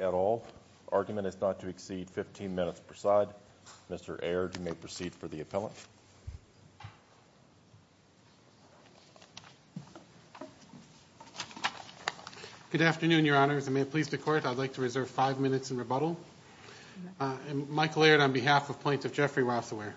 at all. Argument is not to exceed 15 minutes per side. Mr. Aird, you may proceed for the appellant. Good afternoon, Your Honors, and may it please the Court, I'd like to reserve five minutes in rebuttal. Michael Aird on behalf of Plaintiff Jeffrey Rasawehr.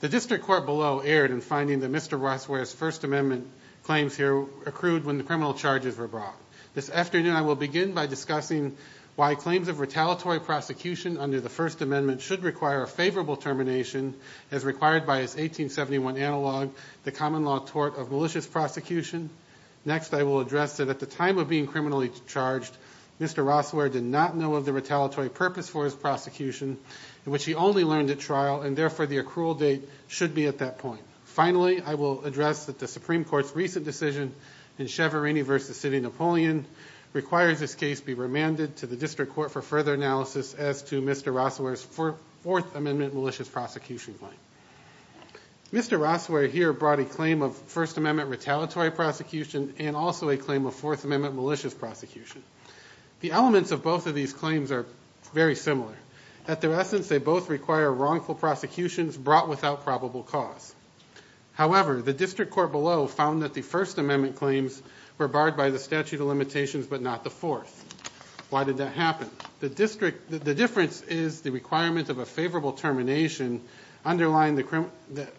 The District Court below erred in finding that Mr. Rasawehr's First Amendment claims here accrued when the criminal charges were brought. This afternoon, I will begin by discussing why claims of retaliatory prosecution under the First Amendment should require a favorable termination, as required by his 1871 analog, the common law tort of malicious prosecution. Next, I will address that at the time of being criminally charged, Mr. Rasawehr did not know of the retaliatory purpose for his prosecution, which he only learned at trial, and therefore, the accrual date should be at that point. Finally, I will address that the Supreme Court's recent decision in Chevron v. Napoleon requires this case be remanded to the District Court for further analysis as to Mr. Rasawehr's Fourth Amendment malicious prosecution claim. Mr. Rasawehr here brought a claim of First Amendment retaliatory prosecution and also a claim of Fourth Amendment malicious prosecution. The elements of both of these claims are very similar. At their essence, they both require wrongful prosecutions brought without probable cause. However, the District Court below found that the First Amendment claims were barred by the statute of limitations, but not the Fourth. Why did that happen? The difference is the requirement of a favorable termination of the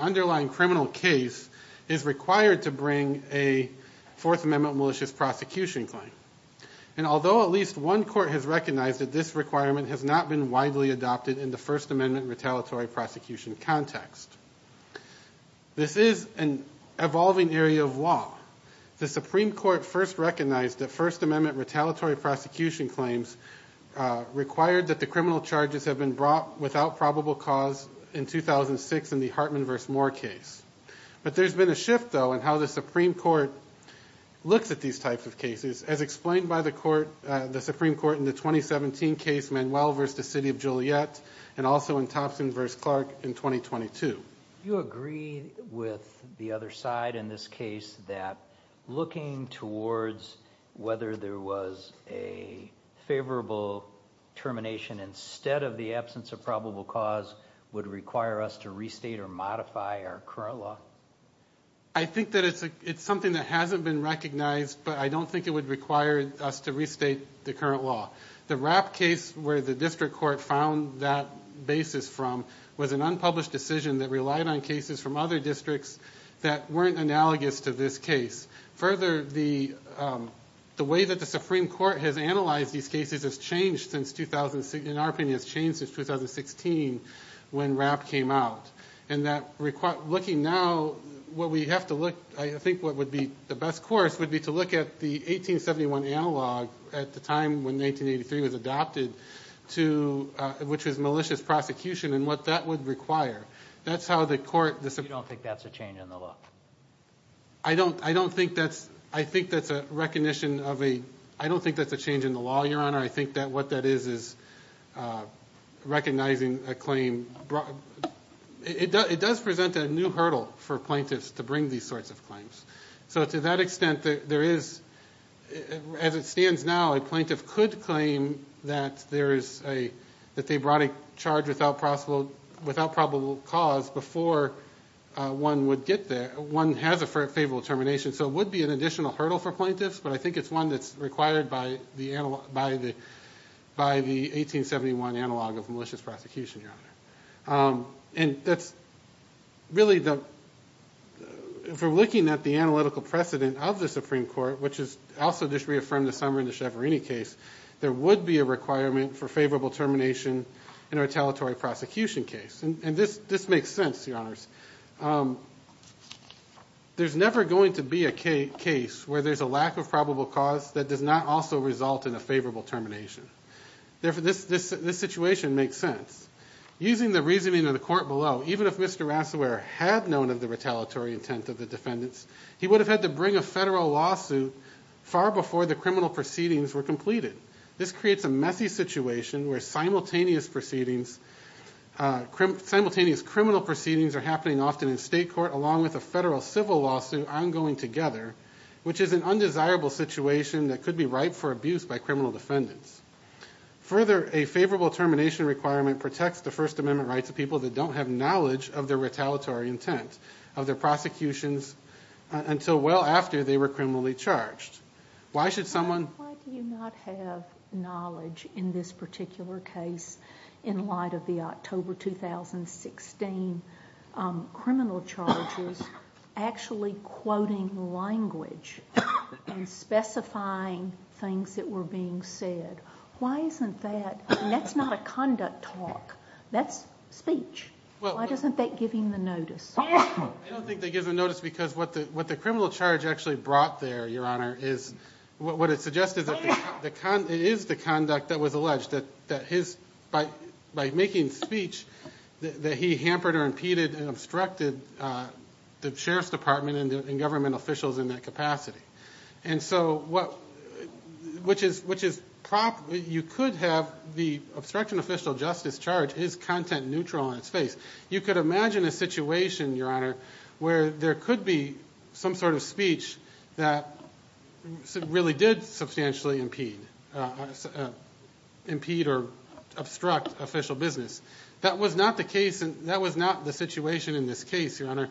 underlying criminal case is required to bring a Fourth Amendment malicious prosecution claim. Although at least one court has recognized that this requirement has not been widely adopted in the First Amendment retaliatory prosecution context, this is an evolving area of law. The Supreme Court first recognized that First Amendment retaliatory prosecution claims required that the criminal charges have been brought without probable cause in 2006 in the Hartman v. Moore case. But there's been a shift, though, in how the Supreme Court looks at these types of cases, as explained by the Supreme Court in the 2017 case, Manuel v. The City of Juliet, and also in Thompson v. Clark in 2022. You agree with the other side in this case that looking towards whether there was an favorable termination instead of the absence of probable cause would require us to restate or modify our current law? I think that it's something that hasn't been recognized, but I don't think it would require us to restate the current law. The Rapp case, where the District Court found that basis from, was an unpublished decision that relied on cases from other districts that weren't analogous to this case. Further, the way that the Supreme Court has analyzed these cases has changed since 2016, in our opinion, has changed since 2016, when Rapp came out. And looking now, what we have to look, I think what would be the best course would be to look at the 1871 analog, at the time when 1983 was adopted, which was malicious prosecution and what that would require. That's how the court... So you don't think that's a change in the law? I don't think that's a change in the law, Your Honor. I think that what that is, is recognizing a claim. It does present a new hurdle for plaintiffs to bring these sorts of claims. So to that extent, as it stands now, a plaintiff could claim that they brought a charge without probable cause before one would get there, one has a favorable termination. So it would be an additional hurdle for plaintiffs, but I think it's one that's required by the 1871 analog of malicious prosecution, Your Honor. That's really the... If we're looking at the analytical precedent of the Supreme Court, which is also just reaffirmed this summer in the Chevrini case, there would be a requirement for favorable termination in a retaliatory prosecution case. And this makes sense, Your Honors. There's never going to be a case where there's a lack of probable cause that does not also result in a favorable termination. Therefore, this situation makes sense. Using the reasoning of the court below, even if Mr. Rasselware had known of the retaliatory intent of the defendants, he would have had to bring a federal lawsuit far before the criminal proceedings were completed. This creates a messy situation where simultaneous proceedings... Simultaneous criminal proceedings are happening often in state court along with a federal civil lawsuit ongoing together, which is an undesirable situation that could be ripe for abuse by criminal defendants. Further, a favorable termination requirement protects the First Amendment rights of people that don't have knowledge of their retaliatory intent, of their prosecutions, until well after they were criminally charged. Why should someone... Why do you not have knowledge in this particular case in light of the October 2016 criminal charges actually quoting language and specifying things that were being said? Why isn't that... That's not a conduct talk. That's speech. Why doesn't that give him the notice? I don't think that gives him notice because what the criminal charge actually brought there, Your Honor, is... What it suggests is that it is the conduct that was alleged that his... By making speech, that he hampered or impeded and obstructed the sheriff's department and government officials in that capacity. And so what... Which is... You could have the obstruction official justice charge is content neutral in its face. You could imagine a situation, Your Honor, where there could be some sort of speech that really did substantially impede or obstruct official business. That was not the case. That was not the situation in this case, Your Honor.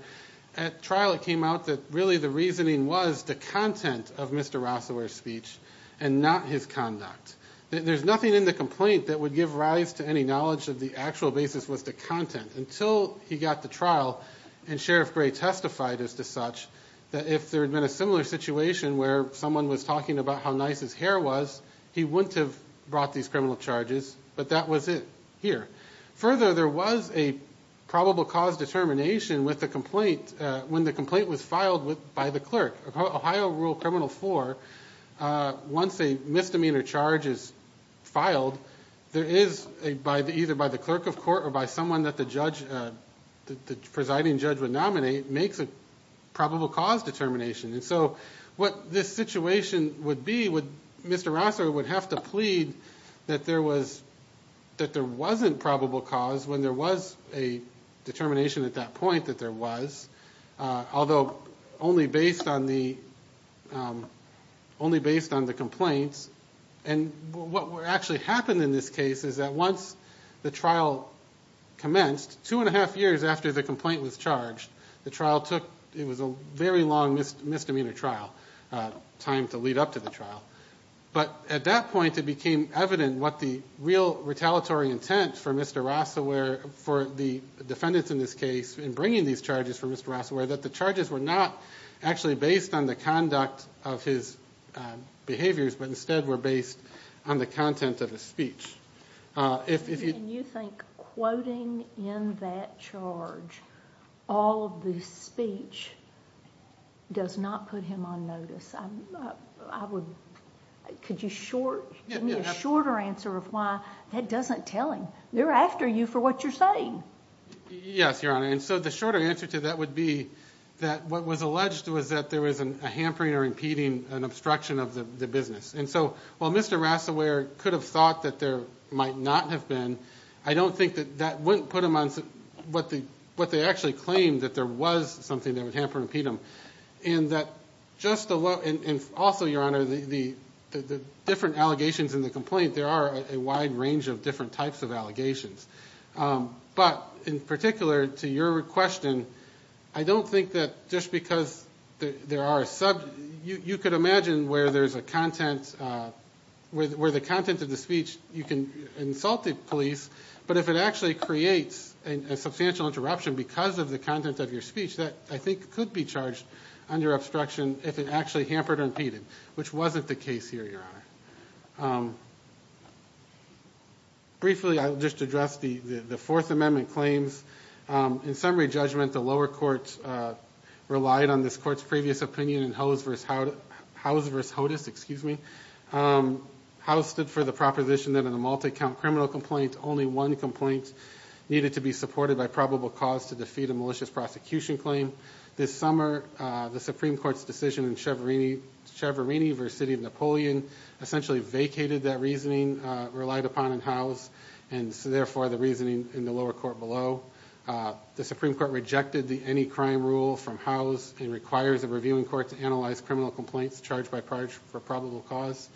At trial, it came out that really the reasoning was the content of Mr. Rosower's speech and not his conduct. There's nothing in the complaint that would give rise to any knowledge that the actual basis was the content until he got to trial and Sheriff Gray testified as to such that if there had been a similar situation where someone was talking about how nice his hair was, he wouldn't have brought these criminal charges, but that was it here. Further, there was a probable cause determination with the complaint when the complaint was filed by the clerk. Ohio Rule Criminal 4, once a misdemeanor charge is filed, there is either by the clerk of court or by someone that the presiding judge would nominate makes a probable cause determination. And so what this situation would be, Mr. Rosower would have to plead that there wasn't probable cause when there was a determination at that point that there was, although only based on the complaints and what actually happened in this case is that once the trial commenced, two and a half years after the complaint was charged, the trial took, it was a very long misdemeanor trial, time to lead up to the trial. But at that point, it became evident what the real retaliatory intent for Mr. Rosower, for the defendants in this case in bringing these charges for Mr. Rosower, that the charges were not actually based on the conduct of his behaviors, but instead were based on the content of his speech. If you think quoting in that charge all of the speech does not put him on notice, I would, could you short, give me a shorter answer of why that doesn't tell him. They're after you for what you're saying. Yes, Your Honor. And so the shorter answer to that would be that what was alleged was that there was a hampering or impeding an obstruction of the business. And so while Mr. Rosower could have thought that there might not have been, I don't think that that wouldn't put him on, what they actually claimed that there was something that would hamper or impede him. And that just the, and also, Your Honor, the different allegations in the complaint, there are a wide range of different types of allegations. But in particular to your question, I don't think that just because there are, you could imagine where there's a content, where the content of the speech, you can insult the police, but if it actually creates a substantial interruption because of the content of your speech, that I think could be charged under obstruction if it actually hampered or impeded, which wasn't the case here, Your Honor. Briefly, I'll just address the Fourth Amendment claims. In summary judgment, the lower courts relied on this Court's previous opinion in Howes v. Hodes, excuse me, Howes stood for the proposition that in a multi-count criminal complaint, only one complaint needed to be supported by probable cause to defeat a malicious prosecution claim. This summer, the Supreme Court essentially vacated that reasoning, relied upon in Howes, and so therefore the reasoning in the lower court below. The Supreme Court rejected the any crime rule from Howes and requires a reviewing court to analyze criminal complaints charged by probable cause.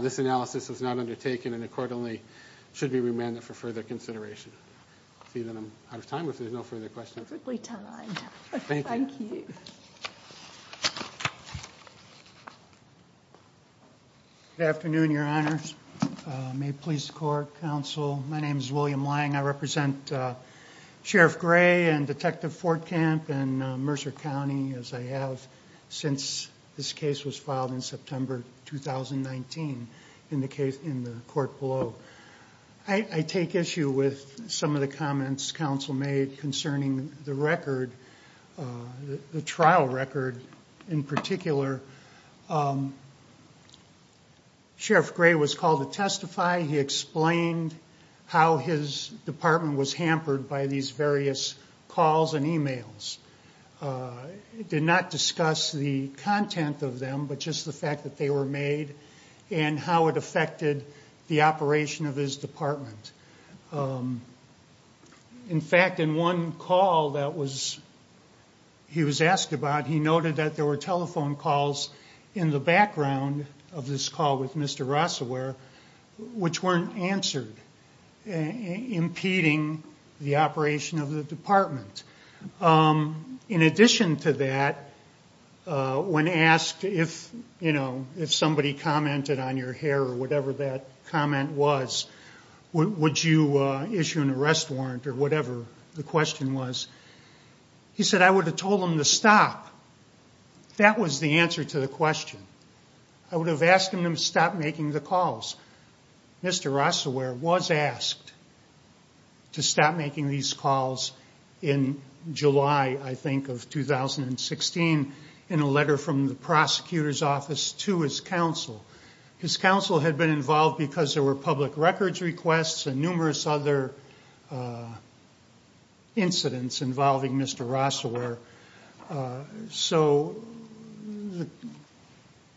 This analysis was not undertaken, and the court only should be remanded for further consideration. I see that I'm out of time, if there's no further questions. Perfectly timed. Thank you. Good afternoon, Your Honors. May it please the Court, Counsel. My name is William Lang. I represent Sheriff Gray and Detective Fortcamp and Mercer County, as I have since this case was filed in September 2019 in the case, in the court below. I take issue with some of the comments Counsel made concerning the record, the trial record in particular. Sheriff Gray was called to testify. He explained how his department was hampered by these various calls and emails. He did not discuss the content of them, but just the fact that they were and how it affected the operation of his department. In fact, in one call that he was asked about, he noted that there were telephone calls in the background of this call with Mr. Rossewer, which weren't answered, impeding the operation of the department. In addition to that, when asked if somebody commented on your hair or whatever that comment was, would you issue an arrest warrant or whatever the question was, he said, I would have told him to stop. That was the answer to the question. I would have asked him to stop making the calls. Mr. Rossewer was asked to stop making these calls in July, I think, of 2016 in a letter from the prosecutor's office to his counsel. His counsel had been involved because there were public records requests and numerous other incidents involving Mr. Rossewer. So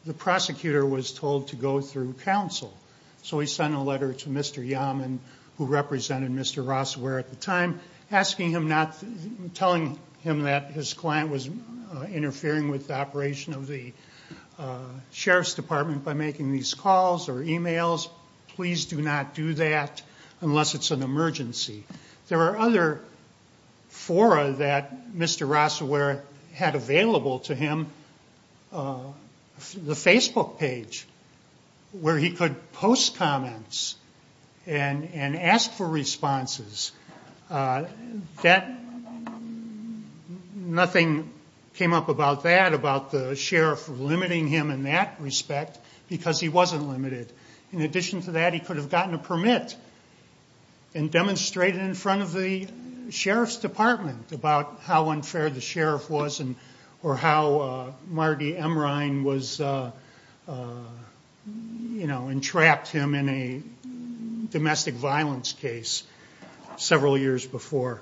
the prosecutor was told to go through counsel. So he sent a letter to Mr. Yaman, who represented Mr. Rossewer at the time, asking him not to, telling him that his client was interfering with the operation of the sheriff's department by making these calls or emails. Please do not do that unless it's an emergency. There are other fora that Mr. Rossewer had available to him, the Facebook page, where he could post comments and ask for responses. Nothing came up about that, about the sheriff limiting him in that respect, because he wasn't limited. In addition to that, he could have gotten a permit and demonstrated in front of the sheriff's department about how unfair the sheriff was or how Marty Emrein entrapped him in a domestic violence case several years before.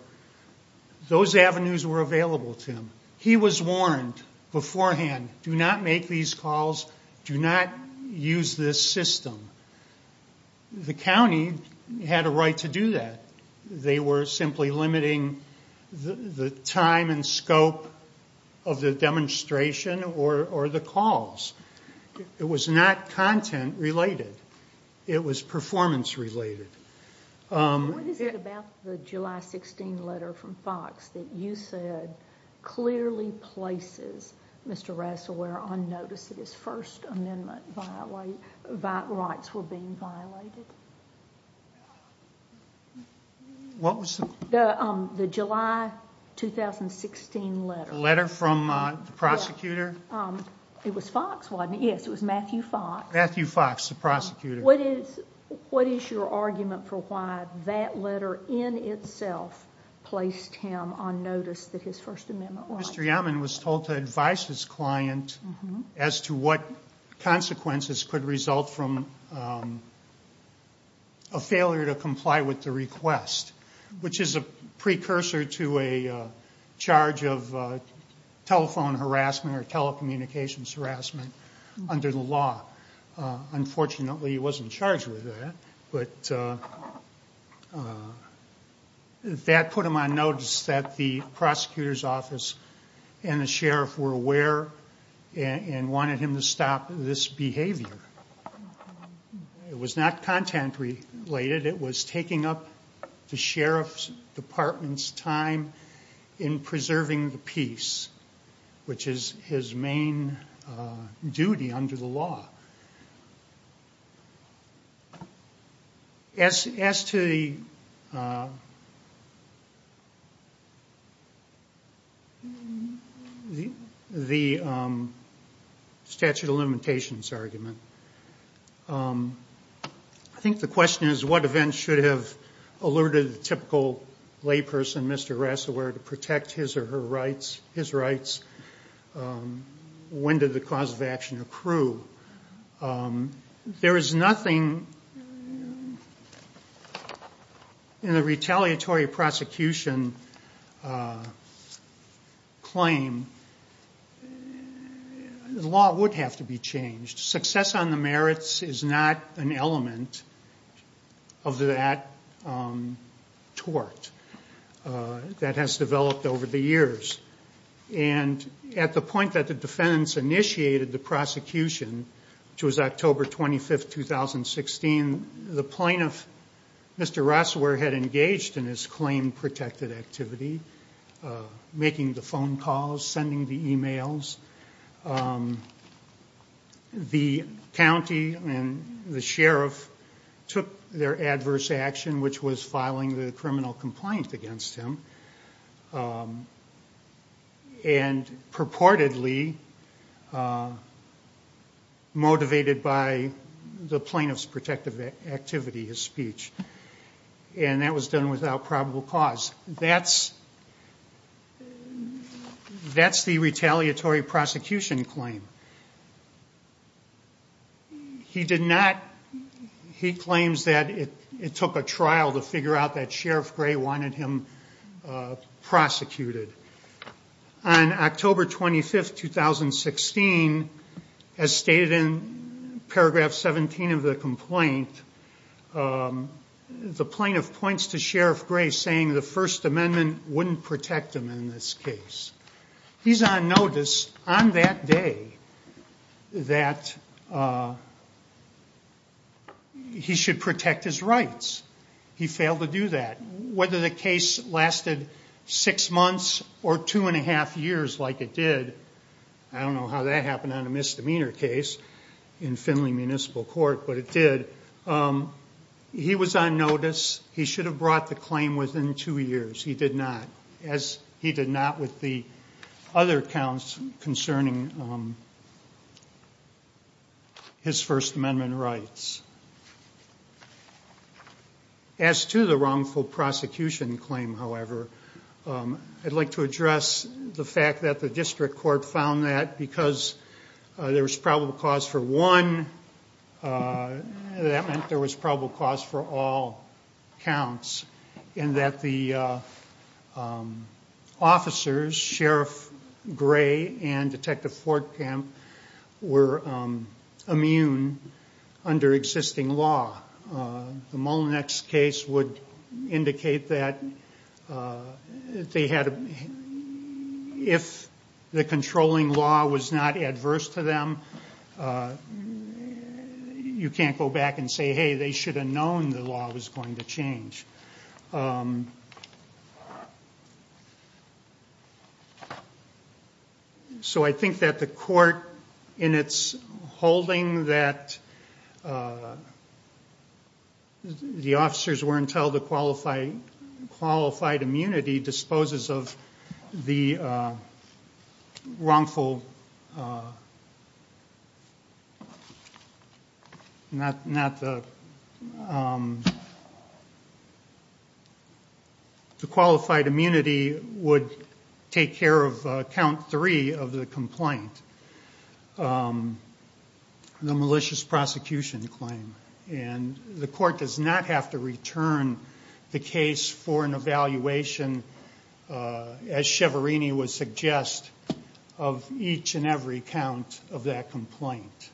Those avenues were available to him. He was warned beforehand, do not make these calls, do not use this system. The county had a right to do that. They were simply limiting the time and scope of the demonstration or the calls. It was not content related. It was performance related. What is it about the July 16 letter from Fox that you said clearly places Mr. Rossewer on notice that his First Amendment rights were being violated? What was the... The July 2016 letter. The letter from the prosecutor? It was Fox, wasn't it? Yes, it was Matthew Fox. Matthew Fox, the prosecutor. What is your argument for why that letter in itself placed him on notice that his First Amendment rights... Mr. Yamen was told to advise his client as to what consequences could result from a failure to comply with the request, which is a precursor to a charge of telephone harassment or telecommunications harassment under the law. Unfortunately, he wasn't charged with that, but that put him on notice that the prosecutor's office and the sheriff were aware and wanted him to stop this behavior. It was not content related. It was taking up the sheriff's department's time in preserving the peace, which is his main duty under the law. As to the statute of limitations argument, I think the question is what events should have alerted the typical layperson, Mr. Rossewer, to protect his or her rights, his rights? When did the cause of action accrue? There is nothing in the retaliatory prosecution claim. The law would have to be changed. Success on the merits is not an element of that tort that has developed over the years. At the point that the defendants initiated the prosecution, which was October 25, 2016, the plaintiff, Mr. Rossewer, had engaged in his claim-protected activity, making the phone calls, sending the emails. The county and the sheriff took their adverse action, which was filing the criminal complaint against him, and purportedly motivated by the plaintiff's protective activity, his speech. That was done without probable cause. That's the retaliatory prosecution claim. He claims that it took a trial to figure out that Sheriff Gray wanted him prosecuted. On October 25, 2016, as stated in paragraph 17 of the complaint, the plaintiff points to Sheriff Gray saying the First Amendment wouldn't protect him in this case. He's on notice on that day that he should protect his rights. He failed to do that. Whether the case lasted six months or two and a half years like it did, I don't know how that happened on a misdemeanor case in Findlay Municipal Court, but it did. He was on notice. He should have brought the claim within two years. He did not. As he did not with the other counts concerning his First Amendment rights. As to the wrongful prosecution claim, however, I'd like to address the fact that the District Court found that because there was probable cause for one, that meant there was The officers, Sheriff Gray and Detective Fortkamp, were immune under existing law. The Mullinex case would indicate that if the controlling law was not adverse to them, you can't go back and say, hey, they should have known the law was going to change. So I think that the court, in its holding that the officers weren't held to qualified immunity, disposes of the wrongful Not the The qualified immunity would take care of count three of the complaint. The malicious prosecution claim. The court does not have to return the case for an evaluation As Chevrini would suggest, of each and every count of that complaint.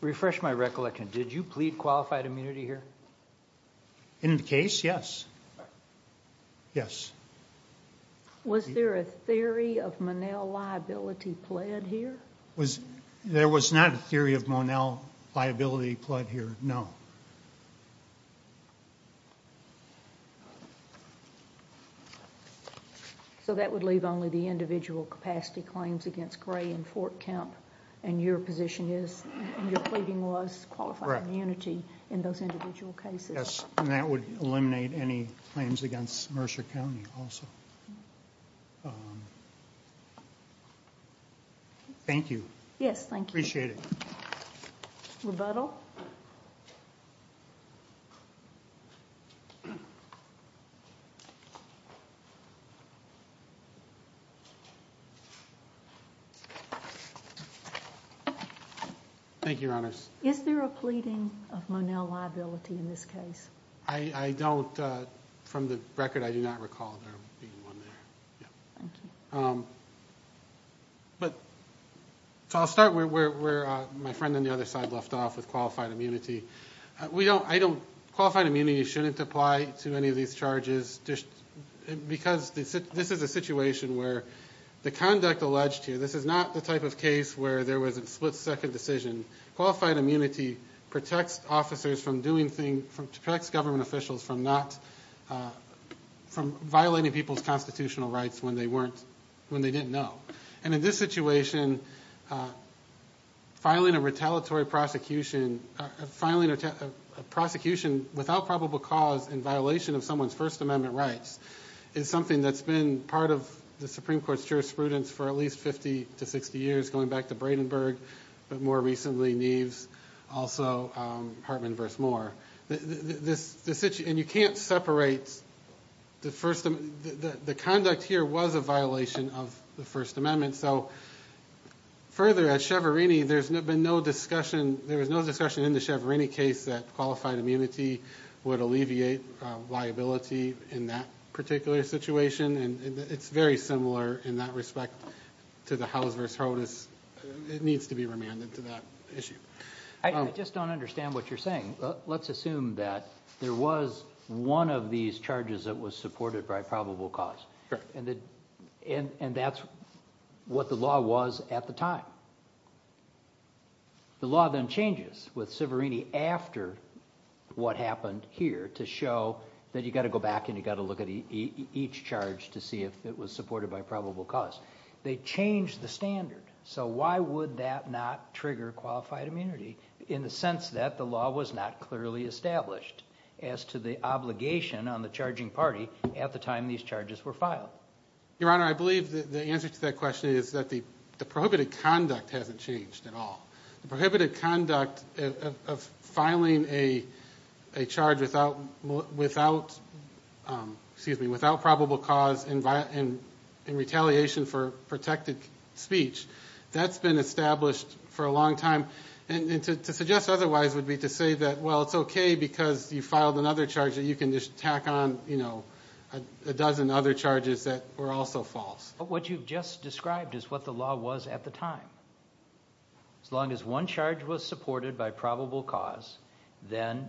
Refresh my recollection. Did you plead qualified immunity here? In the case, yes. Was there a theory of Monell liability pled here? There was not a theory of Monell liability pled here, no. So that would leave only the individual capacity claims against Gray and Fortkamp And your position is, your pleading was qualified immunity in those individual cases. Yes, and that would eliminate any claims against Mercer County, also. Thank you. Yes, thank you. Appreciate it. Rebuttal? Rebuttal? Thank you, Your Honors. Is there a pleading of Monell liability in this case? I don't, from the record, I do not recall there being one there. Thank you. So I'll start where my friend on the other side left off with qualified immunity. Qualified immunity shouldn't apply to any of these charges Because this is a situation where the conduct alleged here, This is not the type of case where there was a split-second decision. Qualified immunity protects officers from doing things, Protects government officials from not, From violating people's constitutional rights when they weren't, When they didn't know. And in this situation, filing a retaliatory prosecution, Filing a prosecution without probable cause in violation of someone's First Amendment rights Is something that's been part of the Supreme Court's jurisprudence For at least 50 to 60 years, going back to Bradenburg, But more recently Neves, also Hartman v. Moore. And you can't separate, The conduct here was a violation of the First Amendment So further, at Chevron, there's been no discussion There was no discussion in the Chevron case that qualified immunity Would alleviate liability in that particular situation And it's very similar in that respect to the House v. Hodes It needs to be remanded to that issue. I just don't understand what you're saying. Let's assume that there was one of these charges that was supported by probable cause And that's what the law was at the time. The law then changes With Siverini after what happened here To show that you've got to go back and you've got to look at each charge To see if it was supported by probable cause. They changed the standard. So why would that not trigger qualified immunity? In the sense that the law was not clearly established As to the obligation on the charging party at the time these charges were filed. Your Honor, I believe that the answer to that question Is that the prohibited conduct hasn't changed at all. The prohibited conduct of filing a charge Without probable cause And retaliation for protected speech That's been established for a long time. To suggest otherwise would be to say that it's okay because you filed another charge That you can just tack on a dozen other charges that were also false. What you've just described is what the law was at the time. As long as one charge was supported by probable cause Then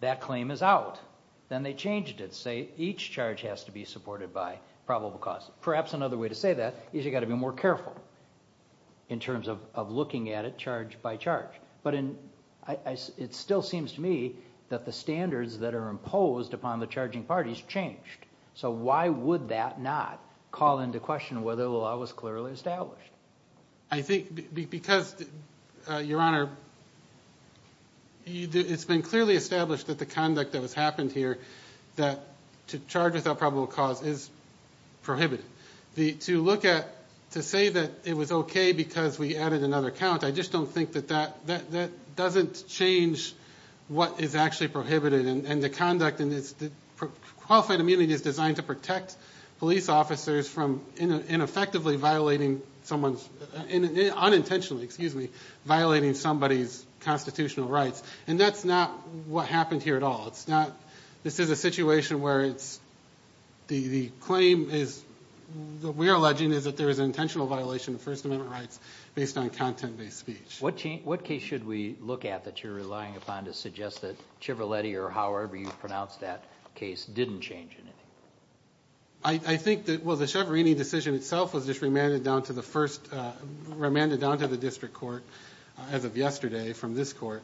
that claim is out. Then they changed it to say each charge has to be supported by probable cause. Perhaps another way to say that is you've got to be more careful. In terms of looking at it charge by charge. It still seems to me that the standards that are imposed upon the charging parties Changed. So why would that not call into question Whether the law was clearly established? I think because, Your Honor It's been clearly established that the conduct that has happened here That to charge without probable cause is prohibited. To say that it was okay because we added another count I just don't think that that doesn't change What is actually prohibited and the conduct Qualified immunity is designed to protect police officers from Ineffectively violating someone's Unintentionally, excuse me, violating somebody's constitutional rights. And that's not what happened here at all. This is a situation where the claim We are alleging is that there is an intentional violation of First Amendment rights Based on content-based speech. What case should we look at that you're relying upon to suggest that However you pronounce that case didn't change anything? I think that the Schiavarini decision itself was just remanded down to the first Remanded down to the district court as of yesterday from this court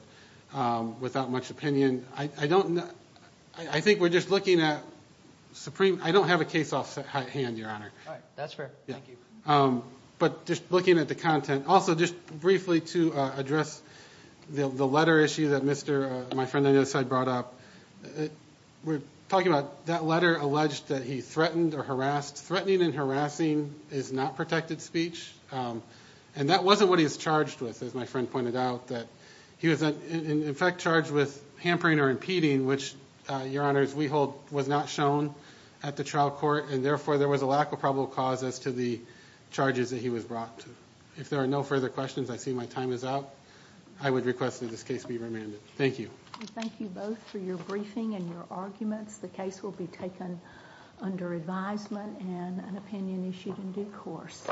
Without much opinion. I don't I think we're just looking at supreme, I don't have a case off hand, Your Honor. That's fair. Thank you. But just looking at the content Also just briefly to address the letter issue that My friend on the other side brought up. We're talking about That letter alleged that he threatened or harassed. Threatening and harassing Is not protected speech. And that wasn't what he was charged with As my friend pointed out. He was in effect charged with Hampering or impeding which, Your Honor, we hold was not shown At the trial court and therefore there was a lack of probable cause as to the charges That he was brought to. If there are no further questions, I see my time is up. I would request that this case be remanded. Thank you. Thank you both for your briefing and your arguments. The case will be taken Under advisement and an opinion issued in due course.